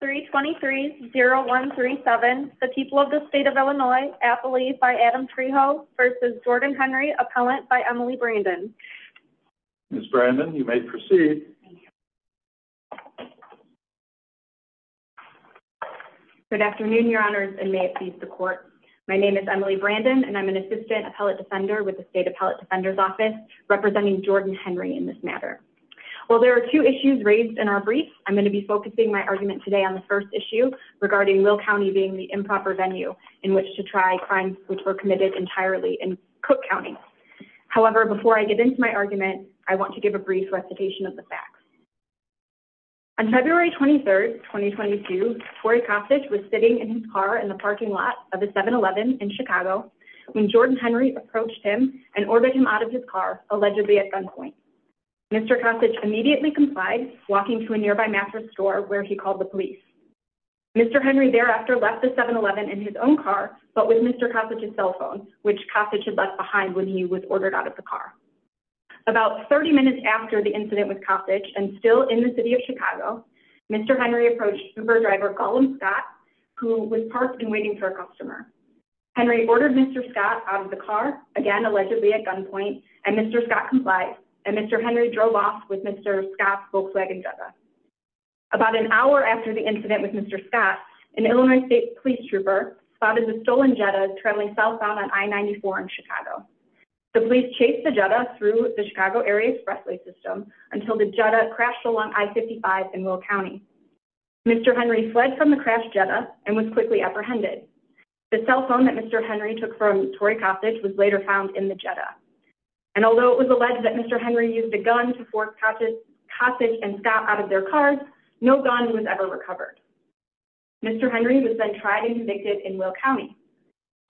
3 23 0 1 3 7. The people of the state of Illinois, Appalachia by Adam Trejo versus Jordan Henry, appellant by Emily Brandon. Miss Brandon, you may proceed. Good afternoon, your honors, and may it please the court. My name is Emily Brandon, and I'm an assistant appellate defender with the state appellate defender's office representing Jordan Henry in this matter. Well, there are two issues raised in our brief. I'm going to be focusing my argument today on the first issue regarding will County being the improper venue in which to try crimes, which were committed entirely and cook County. However, before I get into my argument, I want to give a brief recitation of the facts. On February 23rd, 2022, Torrey Cossage was sitting in his car in the parking lot of the seven 11 in Chicago. When Jordan Henry approached him and ordered him out of his car, allegedly at gunpoint, Mr. immediately complied, walking to a nearby mattress store where he called the police. Mr. Henry thereafter left the 7 11 in his own car, but with Mr. Cossage his cell phone, which Cossage had left behind when he was ordered out of the car. About 30 minutes after the incident with Cossage and still in the city of Chicago, Mr. Henry approached driver Gollum Scott, who was parked and waiting for a customer. Henry ordered Mr. Scott out of the car again, allegedly at gunpoint and Mr. Scott complied. And Mr. Henry drove off with Mr. Scott's Volkswagen Jetta. About an hour after the incident with Mr. Scott, an Illinois state police trooper spotted the stolen Jetta traveling southbound on I-94 in Chicago. The police chased the Jetta through the Chicago area expressway system until the Jetta crashed along I-55 in Will County. Mr. Henry fled from the crash Jetta and was quickly apprehended. The cell phone that Mr. Henry took from Torrey Cossage was later found in the Jetta. And although it was alleged that Mr. Henry used a gun to force Cossage and Scott out of their cars, no gun was ever recovered. Mr. Henry was then tried and convicted in Will County.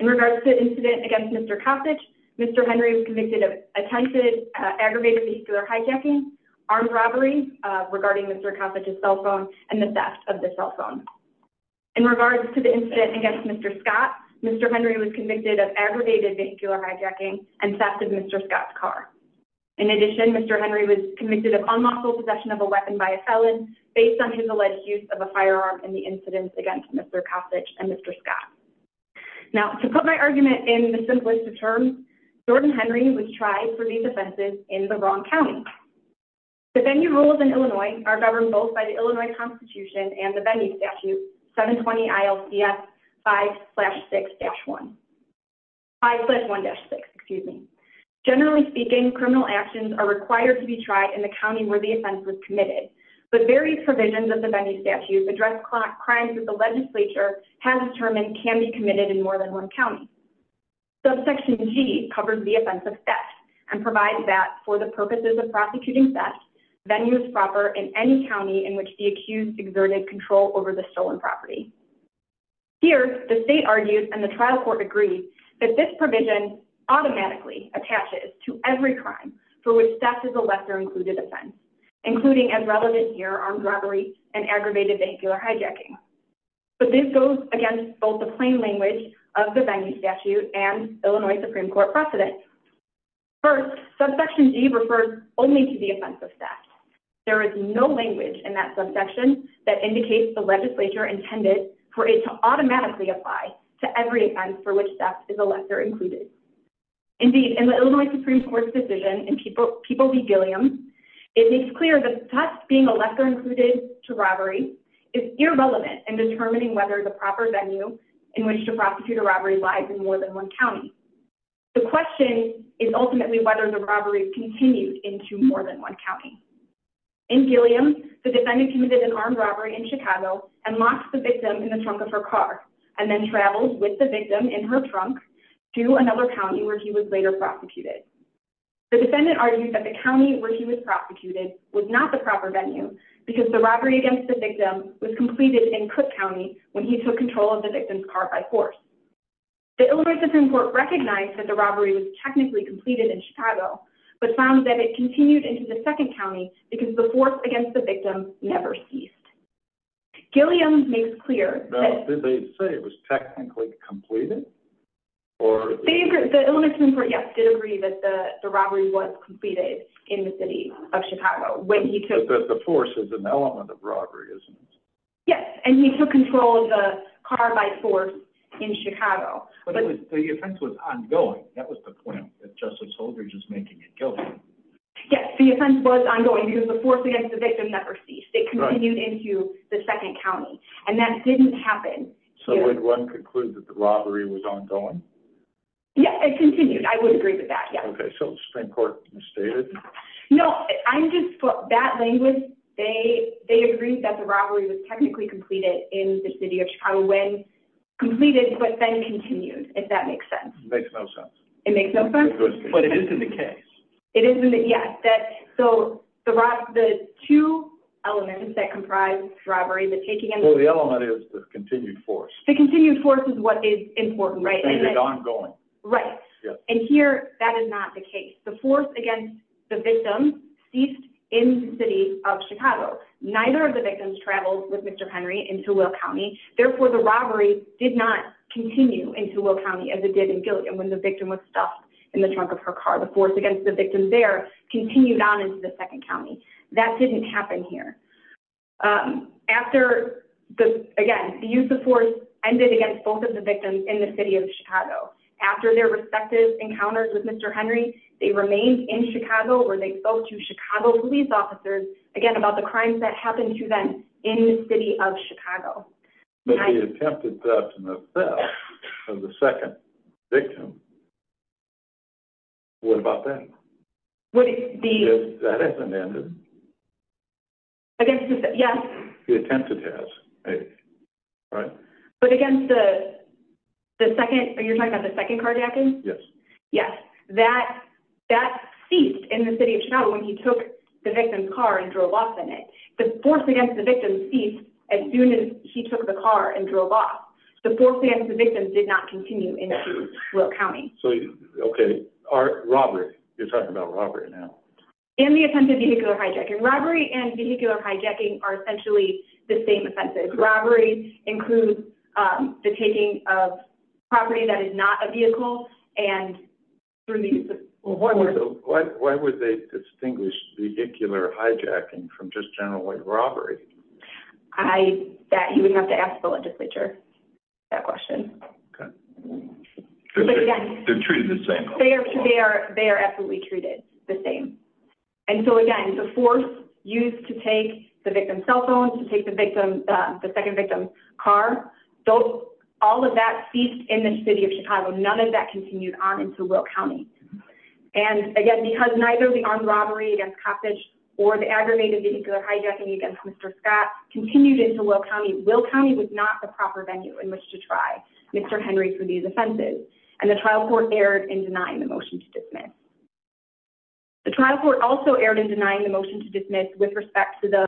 In regards to the incident against Mr. Cossage, Mr. Henry was convicted of attempted aggravated vascular hijacking, armed robbery regarding Mr. Cossage's cell phone and the theft of the cell phone. In regards to the incident against Mr. Scott, Mr. Henry was convicted of aggravated vascular hijacking and theft of Mr. Scott's car. In addition, Mr. Henry was convicted of unlawful possession of a weapon by a felon based on his alleged use of a firearm in the incident against Mr. Cossage and Mr. Scott. Now, to put my argument in the simplest of terms, Jordan Henry was tried for these offenses in the wrong county. The venue rules in Illinois are governed both by the Illinois Constitution and the venue statute, 720 ILCS 5-1-6. Generally speaking, criminal actions are required to be tried in the county where the offense was committed. But various provisions of the venue statute address crimes that the legislature has determined can be committed in more than one county. Subsection G covers the offense of theft and provides that for the purposes of prosecuting theft, venue is not to be offered in any county in which the accused exerted control over the stolen property. Here, the state argues and the trial court agrees that this provision automatically attaches to every crime for which theft is a lesser included offense, including, as relevant here, armed robbery and aggravated vascular hijacking. But this goes against both the plain language of the venue statute and Illinois Supreme Court precedents. First, subsection G refers only to the offense of theft. There is no language in that subsection that indicates the legislature intended for it to automatically apply to every offense for which theft is a lesser included. Indeed, in the Illinois Supreme Court's decision in People v. Gilliam, it makes clear that theft being a lesser included to robbery is irrelevant in determining whether the proper venue in which to prosecute a robbery lies in more than one county. The question is ultimately whether the robbery continued into more than one county. In Gilliam, the defendant committed an armed robbery in Chicago and locked the victim in the trunk of her car and then traveled with the victim in her trunk to another county where he was later prosecuted. The defendant argued that the county where he was prosecuted was not the proper venue because the robbery against the victim was completed in Cook County when he took control of the victim's car by force. The Illinois Supreme Court recognized that the robbery was technically completed in Chicago, but found that it continued into the second county because the force against the victim never ceased. Gilliam makes clear that... Now, did they say it was technically completed? Or... The Illinois Supreme Court, yes, did agree that the robbery was completed in the city of Chicago when he took... But the force is an element of robbery, isn't it? Yes, and he took control of the car by force in Chicago. But the offense was ongoing. That was the point that Justice Holdridge is making in Gilliam. Yes, the offense was ongoing because the force against the victim never ceased. It continued into the second county and that didn't happen. So would one conclude that the robbery was ongoing? Yes, it continued. I would agree with that. Yeah. Okay. So Supreme Court stated? No, I'm just... That language, they agreed that the robbery was technically completed in the city of Chicago when completed, but then continued, if that makes sense. It makes no sense. It makes no sense? But it isn't the case. It isn't the... Yes. That... So the two elements that comprise robbery, the taking and... Well, the element is the continued force. The continued force is what is important, right? And it's ongoing. Right. And here, that is not the case. The force against the victim ceased in the city of Chicago. Neither of the victims traveled with Mr. Henry into Will County. Therefore, the robbery did not continue into Will County as it did in Gilliam when the victim was stuffed in the trunk of her car. The force against the victim there continued on into the second county. That didn't happen here. After the, again, the use of force ended against both of the victims in the city of Chicago. After their respective encounters with Mr. Henry, they remained in Chicago where they spoke to Chicago police officers, again, about the crimes that happened to them in the city of Chicago. But he attempted theft in the theft of the second victim. What about that? What is the... If that hasn't ended? Against the... Yes. He attempted theft, right? But against the second, are you talking about the second carjacking? Yes. Yes. That ceased in the city of Chicago when he took the victim's car and drove off in it. The force against the victim ceased as soon as he took the car and drove off. The force against the victim did not continue into Will County. So, okay. Robbery, you're talking about robbery now. In the offensive vehicular hijacking. Robbery and vehicular hijacking are essentially the same offenses. Robbery includes the taking of property that is not a vehicle. And through the use of... Why would they distinguish vehicular hijacking from just generally robbery? I, that you wouldn't have to ask the legislature that question. Okay. They're treated the same. They are, they are, they are absolutely treated the same. And so again, the force used to take the victim's cell phone, to take the victim, the second victim's car, those, all of that ceased in the city of Chicago. None of that continued on into Will County. And again, because neither the armed robbery against Coppedge or the aggravated vehicular hijacking against Mr. Scott continued into Will County. Will County was not the proper venue in which to try Mr. Henry for these offenses. And the trial court erred in denying the motion to dismiss. The trial court also erred in denying the motion to dismiss with respect to the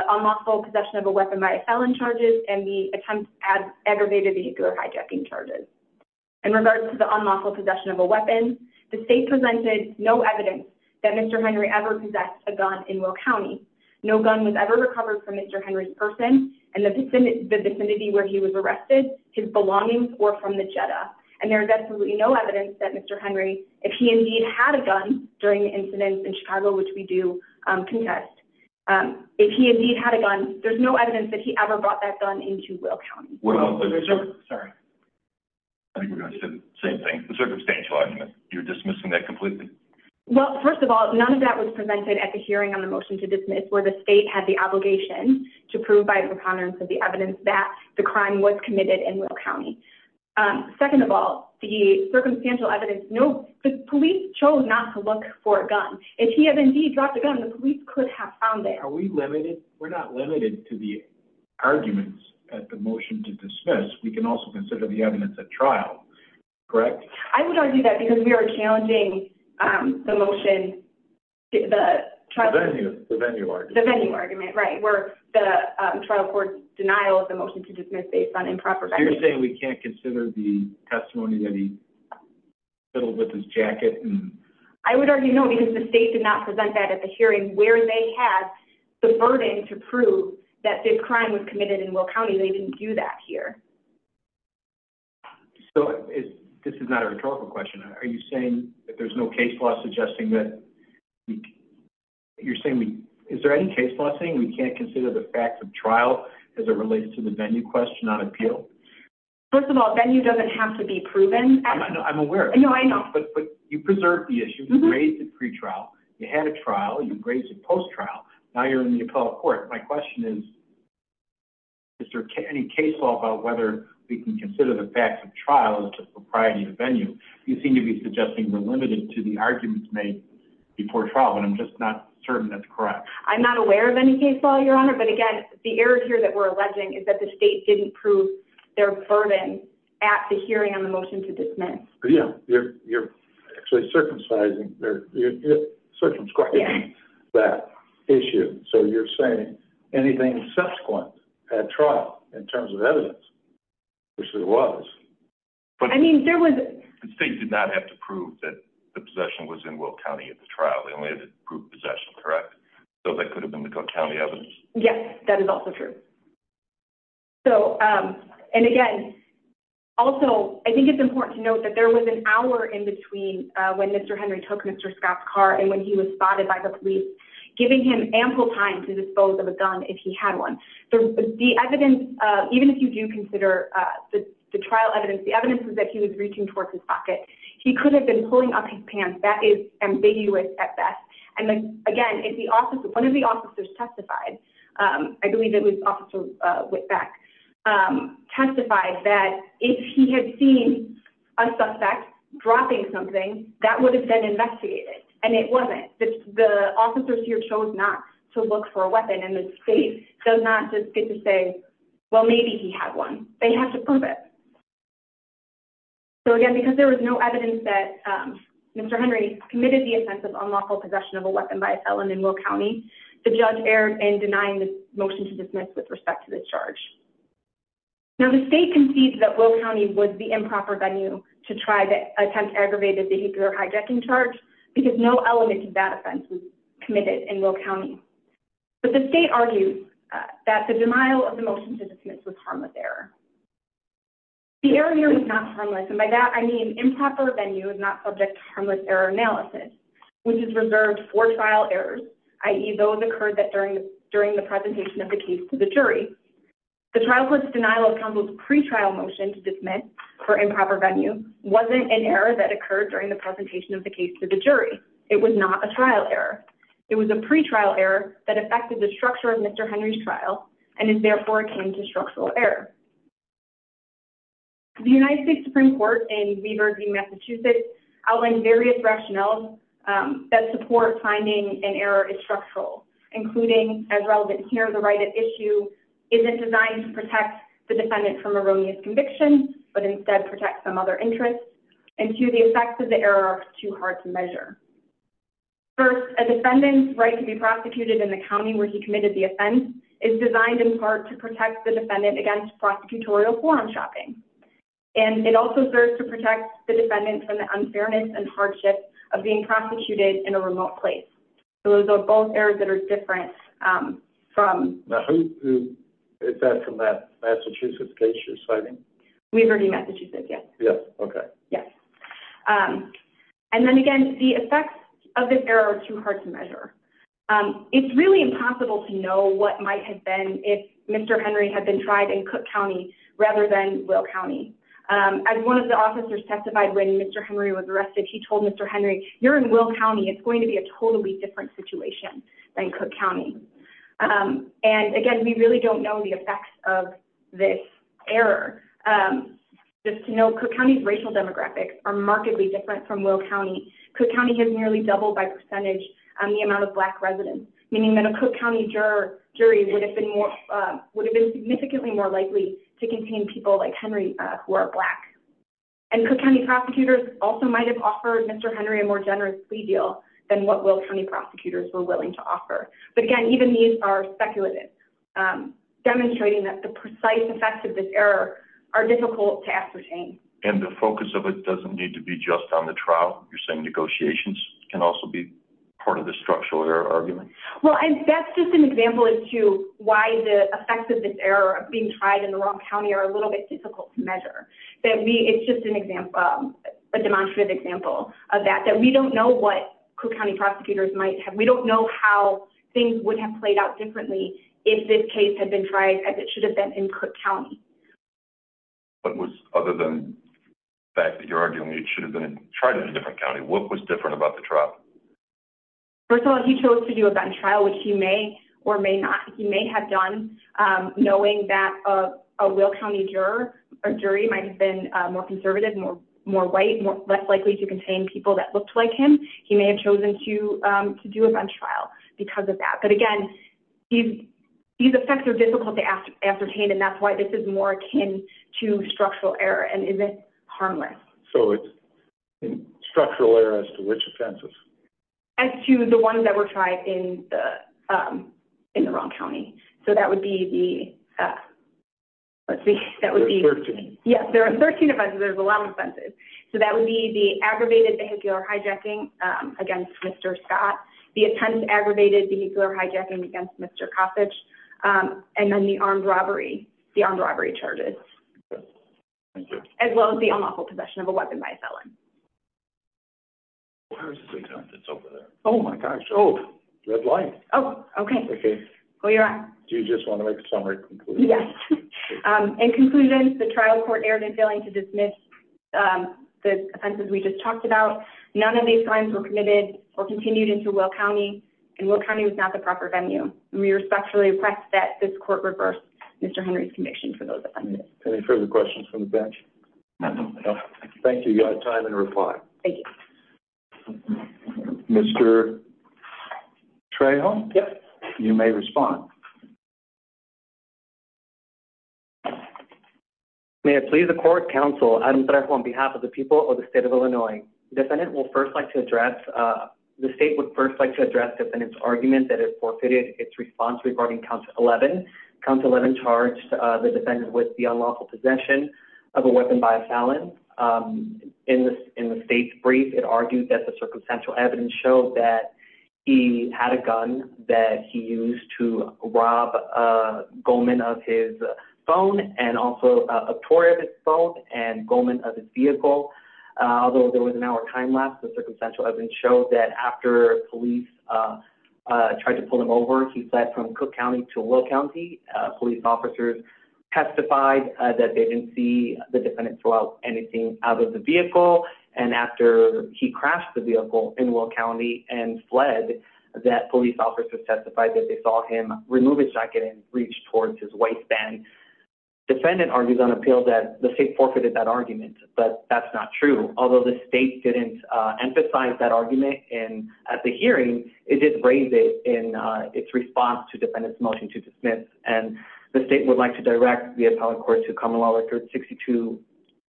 possession of a weapon by a felon charges and the attempt at aggravated vehicular hijacking charges. In regards to the unlawful possession of a weapon, the state presented no evidence that Mr. Henry ever possessed a gun in Will County. No gun was ever recovered from Mr. Henry's person and the vicinity where he was arrested, his belongings were from the Jetta. And there is absolutely no evidence that Mr. Henry, if he indeed had a gun during the incidents in Chicago, which we do contest, if he indeed had a gun, there's no evidence that he ever brought that gun into Will County. I think we're going to say the same thing. The circumstantial argument, you're dismissing that completely. Well, first of all, none of that was presented at the hearing on the motion to dismiss where the state had the obligation to prove by preponderance of the evidence that the crime was committed in Will County. Second of all, the circumstantial evidence, no, the police chose not to look for a gun. If he has indeed dropped a gun, the police could have found it. Are we limited? We're not limited to the arguments at the motion to dismiss. We can also consider the evidence at trial. I would argue that because we are challenging the motion, the trial court denial of the motion to dismiss based on improper. So you're saying we can't consider the testimony that he fiddled with his jacket. I would argue, no, because the state did not present that at the hearing where they had the burden to prove that the crime was committed in Will County. They didn't do that here. So this is not a rhetorical question. Are you saying that there's no case law suggesting that you're saying, is there any case law thing? We can't consider the facts of trial. Is it related to the venue question on appeal? First of all, then you doesn't have to be proven. I'm aware, but you preserved the issue. You raised it pre-trial. You had a trial, you raised it post-trial. Now you're in the appellate court. My question is, is there any case law about whether we can consider the facts of trial as just a priority to venue? You seem to be suggesting we're limited to the arguments made before trial, but I'm just not certain that's correct. I'm not aware of any case law, your honor. But again, the error here that we're alleging is that the state didn't prove their burden at the hearing on the motion to dismiss. Yeah. You're, you're actually circumcising there. You're circumscribing that issue. So you're saying anything subsequent at trial in terms of evidence, which there was. But I mean, there was, the state did not have to prove that the possession was in Will County at the trial. They only had to prove possession. So that could have been the county evidence. Yes, that is also true. So, um, and again, also, I think it's important to note that there was an hour in between, uh, when Mr. Henry took Mr. Scott's car and when he was spotted by the police, giving him ample time to dispose of a gun, if he had one, the evidence, uh, even if you do consider, uh, the, the trial evidence, the evidence is that he was reaching towards his pocket. He could have been pulling up his pants. That is ambiguous at best. And then again, if the officer, one of the officers testified, um, I believe it was officer Whitback, um, testified that if he had seen a suspect dropping something that would have been investigated and it wasn't the officers here chose not to look for a weapon. And the state does not just get to say, well, maybe he had one. They have to prove it. So again, because there was no evidence that, um, Mr. Henry committed the offensive unlawful possession of a weapon by Ellen in Will County, the judge erred in denying the motion to dismiss with respect to this charge. Now the state concedes that Will County was the improper venue to try to attempt aggravated behavior, hijacking charge, because no element of that offense was committed in Will County. But the state argues that the denial of the motion to dismiss was harmless error. The error here is not harmless. And by that, I mean improper venue is not subject to harmless error analysis, which is reserved for trial errors. IE those occurred that during, during the presentation of the case to the jury, the trial court's denial of counsel's pretrial motion to dismiss for improper venue, wasn't an error that occurred during the presentation of the case to the jury. It was not a trial error. It was a pretrial error that affected the structure of Mr. Henry's trial. And it therefore came to structural error. The United States Supreme court and Weaver v. Massachusetts outlined various rationales that support finding an error is structural, including as relevant here, the right at issue isn't designed to protect the defendant from erroneous convictions, but instead protect some other interests. And two, the effects of the error are too hard to measure. First, a defendant's right to be prosecuted in the county where he committed the offense is designed in part to protect the defendant against prosecutorial quorum shopping. And it also serves to protect the defendants from the unfairness and hardship of being prosecuted in a remote place. So those are both areas that are different, um, from is that from that Massachusetts case you're citing? Weaver v. Massachusetts. Yes. Yes. Okay. Yes. Um, and then again, the effects of this error are too hard to measure. Um, it's really impossible to know what might have been if Mr. Henry had been tried in Cook County rather than Will County. Um, as one of the officers testified, when Mr. Henry was arrested, he told Mr. Henry, you're in Will County. It's going to be a totally different situation than Cook County. Um, and again, we really don't know the effects of this error. Um, just to know Cook County's racial demographics are markedly different from Will County. Cook County has nearly doubled by percentage on the amount of black meaning that a Cook County juror jury would have been more, um, would have been significantly more likely to contain people like Henry, uh, who are black and Cook County prosecutors also might've offered Mr. Henry a more generous plea deal than what Will County prosecutors were willing to offer, but again, even these are speculative, um, demonstrating that the precise effects of this error are difficult to ascertain. And the focus of it doesn't need to be just on the trial. You're saying negotiations can also be part of the structural error argument. Well, and that's just an example as to why the effects of this error of being tried in the wrong County are a little bit difficult to measure that we, it's just an example of a demonstrative example of that, that we don't know what Cook County prosecutors might have. We don't know how things would have played out differently if this case had been tried as it should have been in Cook County, but was other than. The fact that you're arguing it should have been tried in a different County, what was different about the trial? First of all, he chose to do a gun trial, which he may or may not, he may have done, um, knowing that, uh, a Will County juror or jury might've been more conservative, more, more white, more less likely to contain people that looked like him, he may have chosen to, um, to do a gun trial because of that. But again, these, these effects are difficult to ask, ascertain, and that's why this is more akin to structural error. And is it harmless? So it's structural error as to which offenses. As to the ones that were tried in the, um, in the wrong County. So that would be the, uh, let's see, that would be, yes, there are 13 offenses, there's a lot of offenses. So that would be the aggravated vehicular hijacking, um, against Mr. Scott, the attendant aggravated vehicular hijacking against Mr. Um, and then the armed robbery, the armed robbery charges, as well as the unlawful possession of a weapon by a felon. Oh my gosh. Oh, red light. Oh, okay. Okay. Well, you're on. Do you just want to make a summary? Yes. Um, and conclusions, the trial court erred in failing to dismiss, um, the offenses we just talked about. None of these crimes were committed or continued into Will County and Will County was not the proper venue. And we respectfully request that this court reversed Mr. Henry's conviction for those. Any further questions from the bench? Thank you. You got time and reply. Mr. Trey home. You may respond. May I please the court counsel on behalf of the people of the state of Illinois. Defendant will first like to address, uh, the state would first like to address defendants argument that it forfeited its response regarding council 11 council 11 charged, uh, the defendant with the unlawful possession of a weapon by a felon, um, in the, in the state's brief, it argued that the circumstantial evidence showed that he had a gun that he used to rob, uh, Goldman of his phone and also a tour of his phone and Goldman of his vehicle. Uh, although there was an hour time lapse, the circumstantial evidence showed that after police, uh, uh, tried to pull him over, he fled from Cook County to Will County, uh, police officers testified that they didn't see the defendant throughout anything out of the vehicle. And after he crashed the vehicle in Will County and fled that police officers testified that they saw him remove his jacket and reach towards his waistband defendant argues on appeal that the state forfeited that argument. But that's not true. Although the state didn't, uh, emphasize that argument and at the hearing, it did raise it in, uh, its response to defendants motion to dismiss, and the state would like to direct the appellate court to common law records 62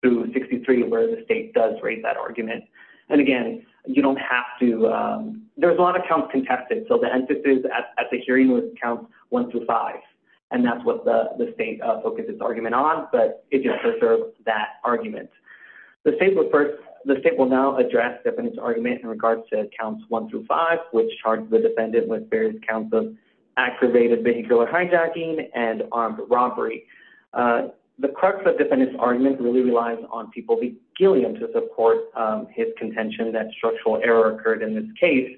through 63, where the state does raise that argument. And again, you don't have to, um, there's a lot of counts contested. So the emphasis at the hearing was counts one through five, and that's what the state focuses argument on, but it just preserves that argument. The state will first, the state will now address the argument in regards to accounts one through five, which charged the defendant with various counts of aggravated vehicular hijacking and armed robbery. Uh, the crux of defendants argument really relies on people be gilliam to support, um, his contention that structural error occurred in this case.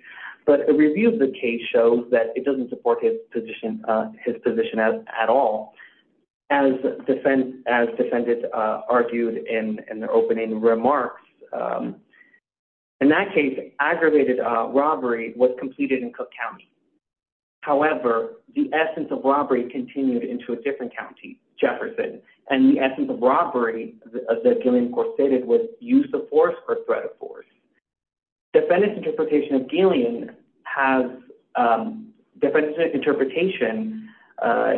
But the review of the case shows that it doesn't support his position, uh, his position as at all. As defend, as defended, uh, argued in, in the opening remarks, um, in that case, aggravated, uh, robbery was completed in Cook County. However, the essence of robbery continued into a different county, Jefferson, and the essence of robbery of the Gillian court stated with use of force or threat of force. Defendants interpretation of Gillian has, um, different interpretation, uh,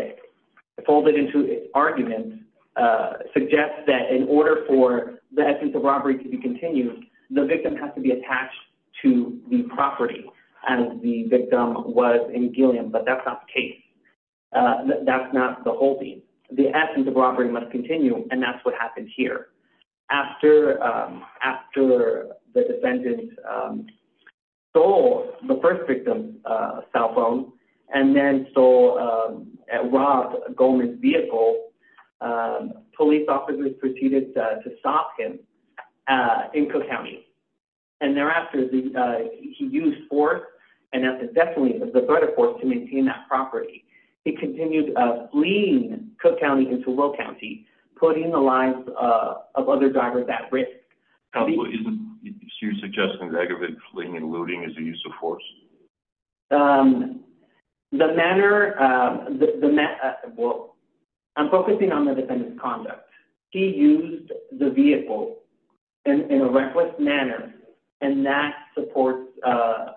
folded into arguments, uh, suggests that in order for the essence of robbery to be continued, the victim has to be attached to the property and the victim was in Gillian, but that's not the case. Uh, that's not the whole thing. The essence of robbery must continue. And that's what happened here after, um, after the defendant, um, goal, the first victim, uh, cell phone and then stole, um, at Rob Goldman's vehicle, um, police officers proceeded to stop him, uh, in Cook County. And thereafter, the, uh, he used for, and that's definitely the threat of force to maintain that property. He continued, uh, lean Cook County into low County, putting the lives of other drivers at risk. How do you suggest that aggravated fleeing and looting is a use of force? Um, the manner, um, the, the, well, I'm focusing on the defendant's conduct. He used the vehicle in a reckless manner and that supports, uh,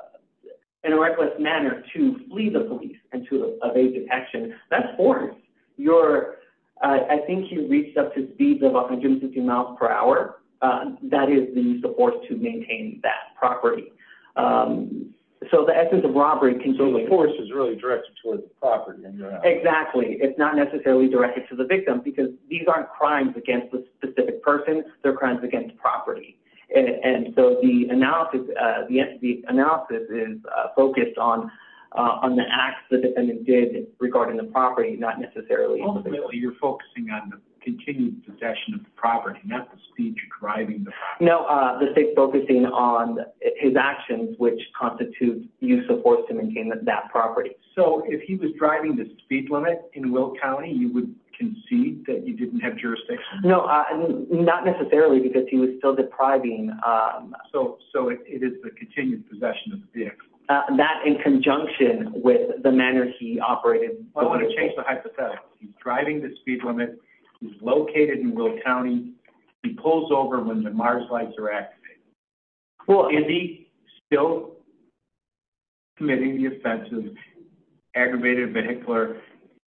in a reckless manner to flee the police and to evade detection, that's for your, uh, I reached up to speeds of 150 miles per hour. Uh, that is the use of force to maintain that property. Um, so the essence of robbery can join the force is really directed towards the property. Exactly. It's not necessarily directed to the victim because these aren't crimes against the specific person. They're crimes against property. And so the analysis, uh, the, the analysis is focused on, uh, on the acts that the defendant did regarding the property, not necessarily. You're focusing on the continued possession of the property, not the speech, driving the, no, uh, the state focusing on his actions, which constitutes use of force to maintain that property. So if he was driving the speed limit in Will County, you would concede that you didn't have jurisdiction? No, uh, not necessarily because he was still depriving. Um, so, so it is the continued possession of the vehicle, uh, that in conjunction with the manner he operated. I want to change the hypothetical. He's driving the speed limit. He's located in Will County. He pulls over when the Mars lights are activated. Well, is he still committing the offense of aggravated vehicular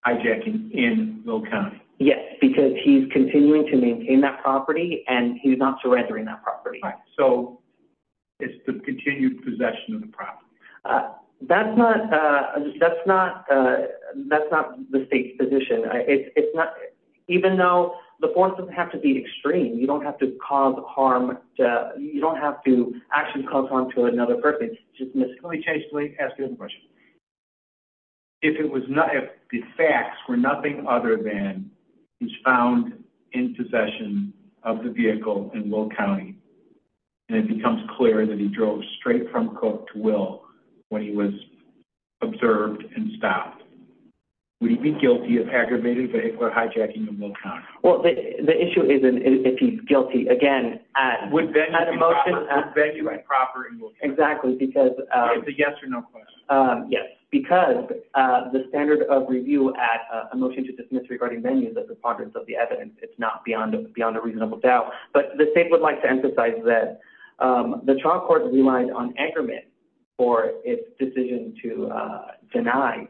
hijacking in Will County? Yes, because he's continuing to maintain that property and he's not surrendering that property. So it's the continued possession of the property. Uh, that's not, uh, that's not, uh, that's not the state's position. I it's not, even though the form doesn't have to be extreme, you don't have to cause harm to you. Don't have to actually cause harm to another purpose. Just let me change. Let me ask you a question. If it was not, if the facts were nothing other than he's found in possession of the vehicle in Will County and it becomes clear that he was straight from court to will, when he was observed and stopped, would he be guilty of aggravated vehicular hijacking in Will County? Well, the issue is if he's guilty, again, at a motion, exactly. Because, um, yes, because, uh, the standard of review at a motion to dismiss regarding venues of the progress of the evidence, it's not beyond, beyond a reasonable doubt, but the state would like to emphasize that, um, the trial court relied on aggregate for its decision to, uh, deny,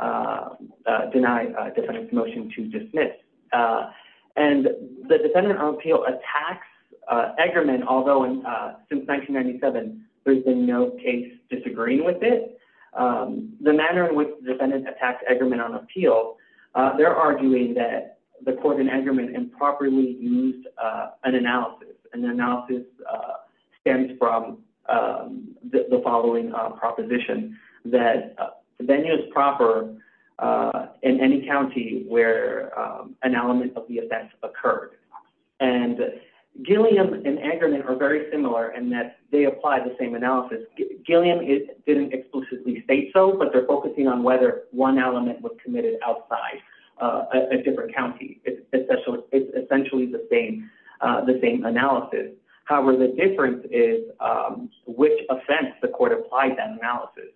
uh, uh, deny a defendant's motion to dismiss, uh, and the defendant on appeal attacks, uh, aggregate, although, uh, since 1997, there's been no case disagreeing with it. Um, the manner in which the defendant attacked aggregate on appeal, uh, they're arguing that the court in aggregate improperly used, uh, an analysis, uh, stems from, um, the following, uh, proposition that venue is proper, uh, in any County where, um, an element of the offense occurred. And Gilliam and Ackerman are very similar in that they apply the same analysis. Gilliam didn't exclusively state so, but they're focusing on whether one element was committed outside, uh, a different County, especially, it's essentially the same, uh, the same analysis. However, the difference is, um, which offense the court applied that analysis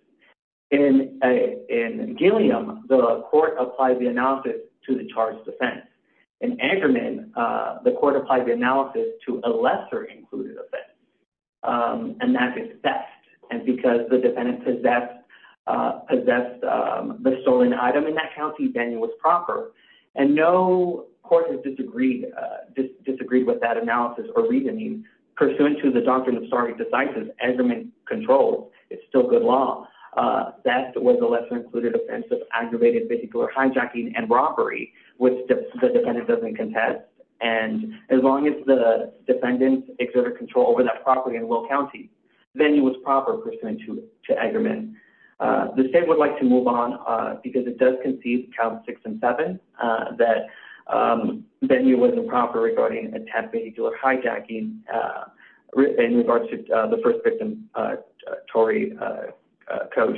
in, uh, in Gilliam, the court applied the analysis to the charged offense and Ackerman, uh, the court applied the analysis to a lesser included offense, um, and that's best. And because the defendant possessed, uh, possessed, um, the stolen item in that County venue was proper. And no court has disagreed, uh, disagreed with that analysis or reasoning pursuant to the doctrine of sorry, decisive Ackerman controls. It's still good law. Uh, that was a lesser included offensive, aggravated, particular hijacking and robbery, which the defendant doesn't contest. And as long as the defendant exerted control over that property in Will County venue was proper pursuant to, to Ackerman, uh, the state would like to move on, uh, because it does concede count six and seven, uh, that, um, then you wasn't proper regarding attempt, vehicular hijacking, uh, written in regards to the first victim, uh, Torrey, uh, uh, coach,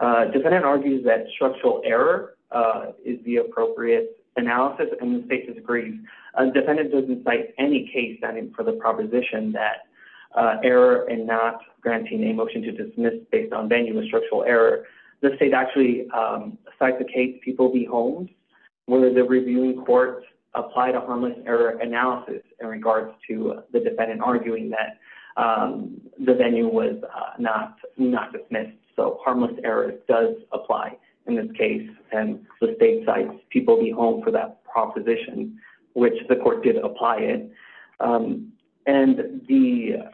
uh, defendant argues that structural error, uh, is the appropriate analysis. And the state has agreed. A defendant doesn't cite any case standing for the proposition that, uh, error and not granting a motion to dismiss based on venue and structural error. The state actually, um, cites the case. People be homes, whether the reviewing courts apply to harmless error analysis in regards to the defendant arguing that, um, the venue was, uh, not, not dismissed. So harmless error does apply in this case. And the state sites, people be home for that proposition, which the court did apply it. Um, and the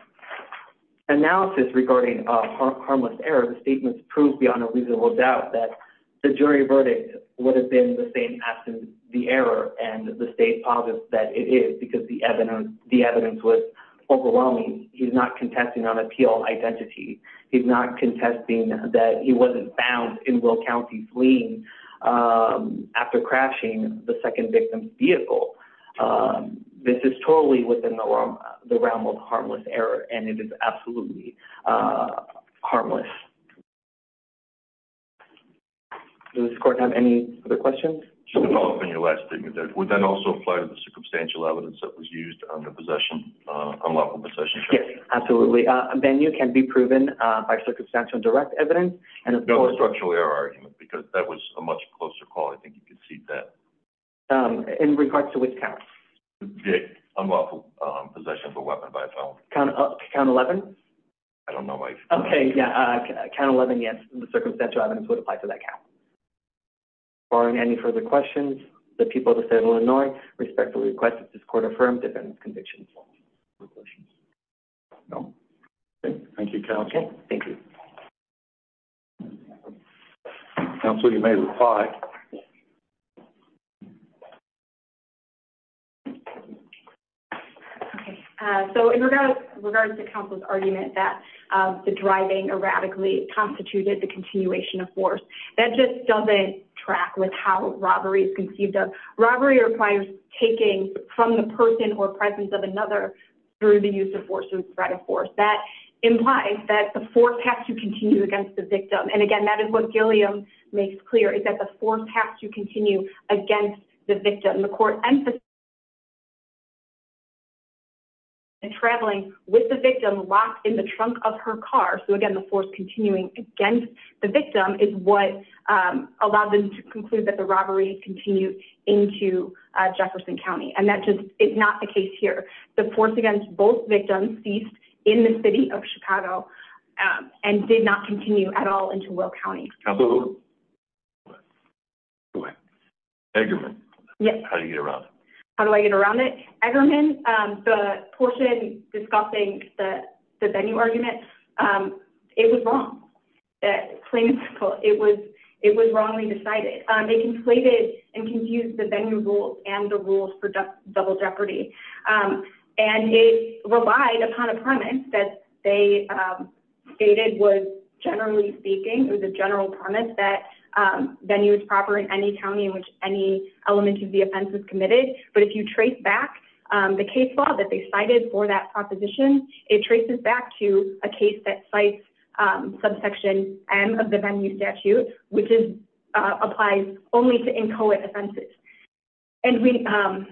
analysis regarding, uh, harmless error, the statements proved beyond a reasonable doubt that the jury verdict would have been the same as the error and the state positive that it is because the evidence, the evidence was overwhelming. He's not contesting on appeal identity. He's not contesting that he wasn't found in will County fleeing, um, after crashing the second victim's vehicle. Um, this is totally within the realm, the realm of harmless error. And it is absolutely, uh, harmless. Does the court have any other questions in your last statement that would then also apply to the circumstantial evidence that was used on the possession, uh, unlawful possession? Yes, absolutely. Uh, then you can be proven, uh, by circumstantial direct evidence and of course, structural error argument, because that was a much closer call. I think you can see that, um, in regards to which counts, the unlawful, um, possession of a weapon by a felon count up to count 11. I don't know. Okay. Yeah. Count 11. Yes. The circumstantial evidence would apply to that. Barring any further questions, the people of the state of Illinois respectfully request that this court affirmed defendants convictions. No. Thank you. Thank you. Absolutely. You may reply. Okay. So in regards, regards to counsel's argument that, um, the driving erratically constituted the continuation of force that just doesn't track with how robbery is conceived of. Robbery requires taking from the person or presence of another through the use of force and spread of force. That implies that the force has to continue against the victim. And again, that is what Gilliam makes clear is that the force has to continue against the victim. The court emphasis. And traveling with the victim locked in the trunk of her car. So again, the force continuing against the victim is what, um, allowed them to conclude that the robbery continued into Jefferson County. And that just is not the case here. The force against both victims ceased in the city of Chicago. Um, and did not continue at all into will County. Eggerman, how do you get around it? How do I get around it? Eggerman, um, the portion discussing the venue argument, um, it was wrong. That plain and simple. It was, it was wrongly decided. Um, they conflated and confused the venue rules and the rules for double jeopardy. Um, and it relied upon a premise that they, um, stated was generally speaking, it was a general premise that, um, venue is proper in any County in which any element of the offense is committed. But if you trace back, um, the case law that they cited for that proposition, it traces back to a case that sites, um, subsection M of the venue statute, which is, uh, applies only to inchoate offenses. And we, um,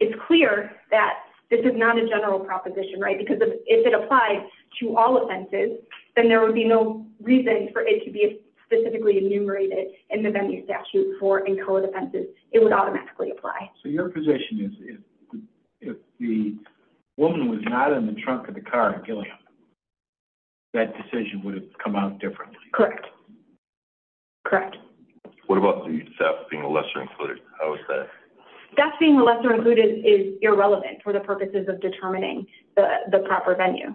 it's clear that this is not a general proposition, right? Because if it applies to all offenses, then there would be no reason for it to be specifically enumerated in the venue statute for inchoate offenses. It would automatically apply. So your position is if the woman was not in the trunk of the car, that decision would have come out differently. Correct. Correct. What about the theft being a lesser included? How is that? That's being a lesser included is irrelevant for the purposes of determining the proper venue.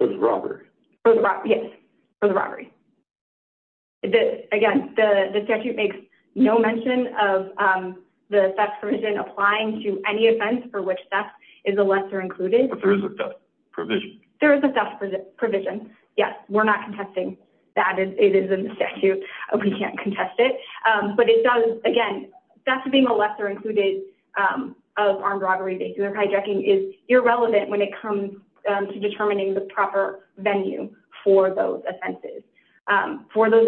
There's robbery for the robbery. The, again, the statute makes no mention of, um, the theft provision applying to any offense for which theft is a lesser included provision. There is a theft provision. Yes. We're not contesting that it is in the statute. We can't contest it. Um, but it does, again, that's being a lesser included, um, of armed robbery. They do a hijacking is irrelevant when it comes to determining the proper venue for those offenses. Um, for those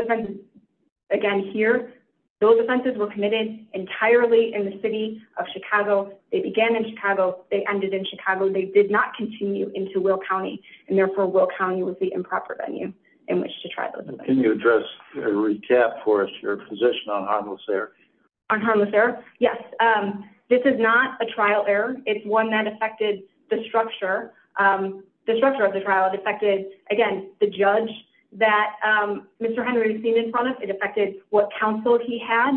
again, here, those offenses were committed entirely in the city of Chicago. They began in Chicago. They ended in Chicago. They did not continue into will County and therefore will County was the improper venue in which to try. Can you address a recap for us? Your position on harmless there on harmless there? Yes. Um, this is not a trial error. It's one that affected the structure, um, the structure of the trial. It affected again, the judge that, um, Mr. Henry has seen in front of it affected what counseled he had.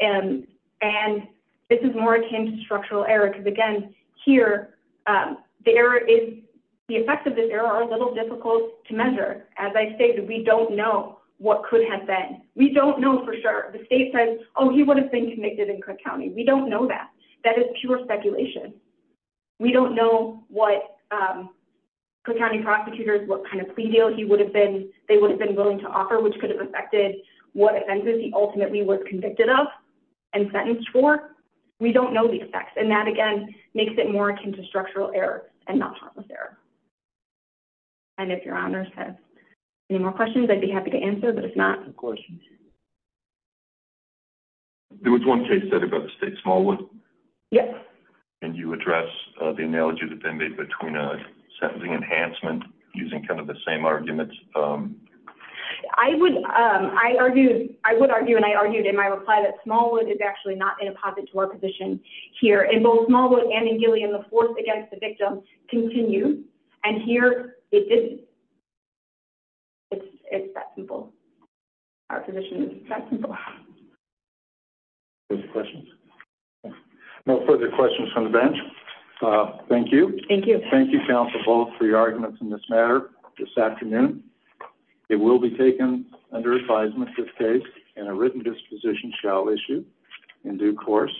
And, and this is more akin to structural error. Cause again, here, um, the error is the effects of this error are a little difficult to measure. As I stated, we don't know what could have been. We don't know for sure. The state says, oh, he would have been convicted in Cook County. We don't know that. That is pure speculation. We don't know what, um, Cook County prosecutors, what kind of plea deal he would have been, they would have been willing to offer, which could have affected what offenses he ultimately was convicted of and sentenced for. We don't know the effects. And that again, makes it more akin to structural error and not harmless error. And if your honors has any more questions, I'd be happy to answer, but if not, of course, there was one case that about the state smallwood and you address the analogy that they made between a sentencing enhancement using kind of the same. Um, I would, um, I argued, I would argue, and I argued in my reply that smallwood is actually not in a posit to our position here in both smallwood and in the fourth against the victim continue. And here it didn't. It's it's that simple. Our position is that simple. No further questions from the bench. Uh, thank you. Thank you. Thank you. Counsel both for your arguments in this matter this afternoon, it will be taken under advisement, this case and a written disposition shall issue in due course.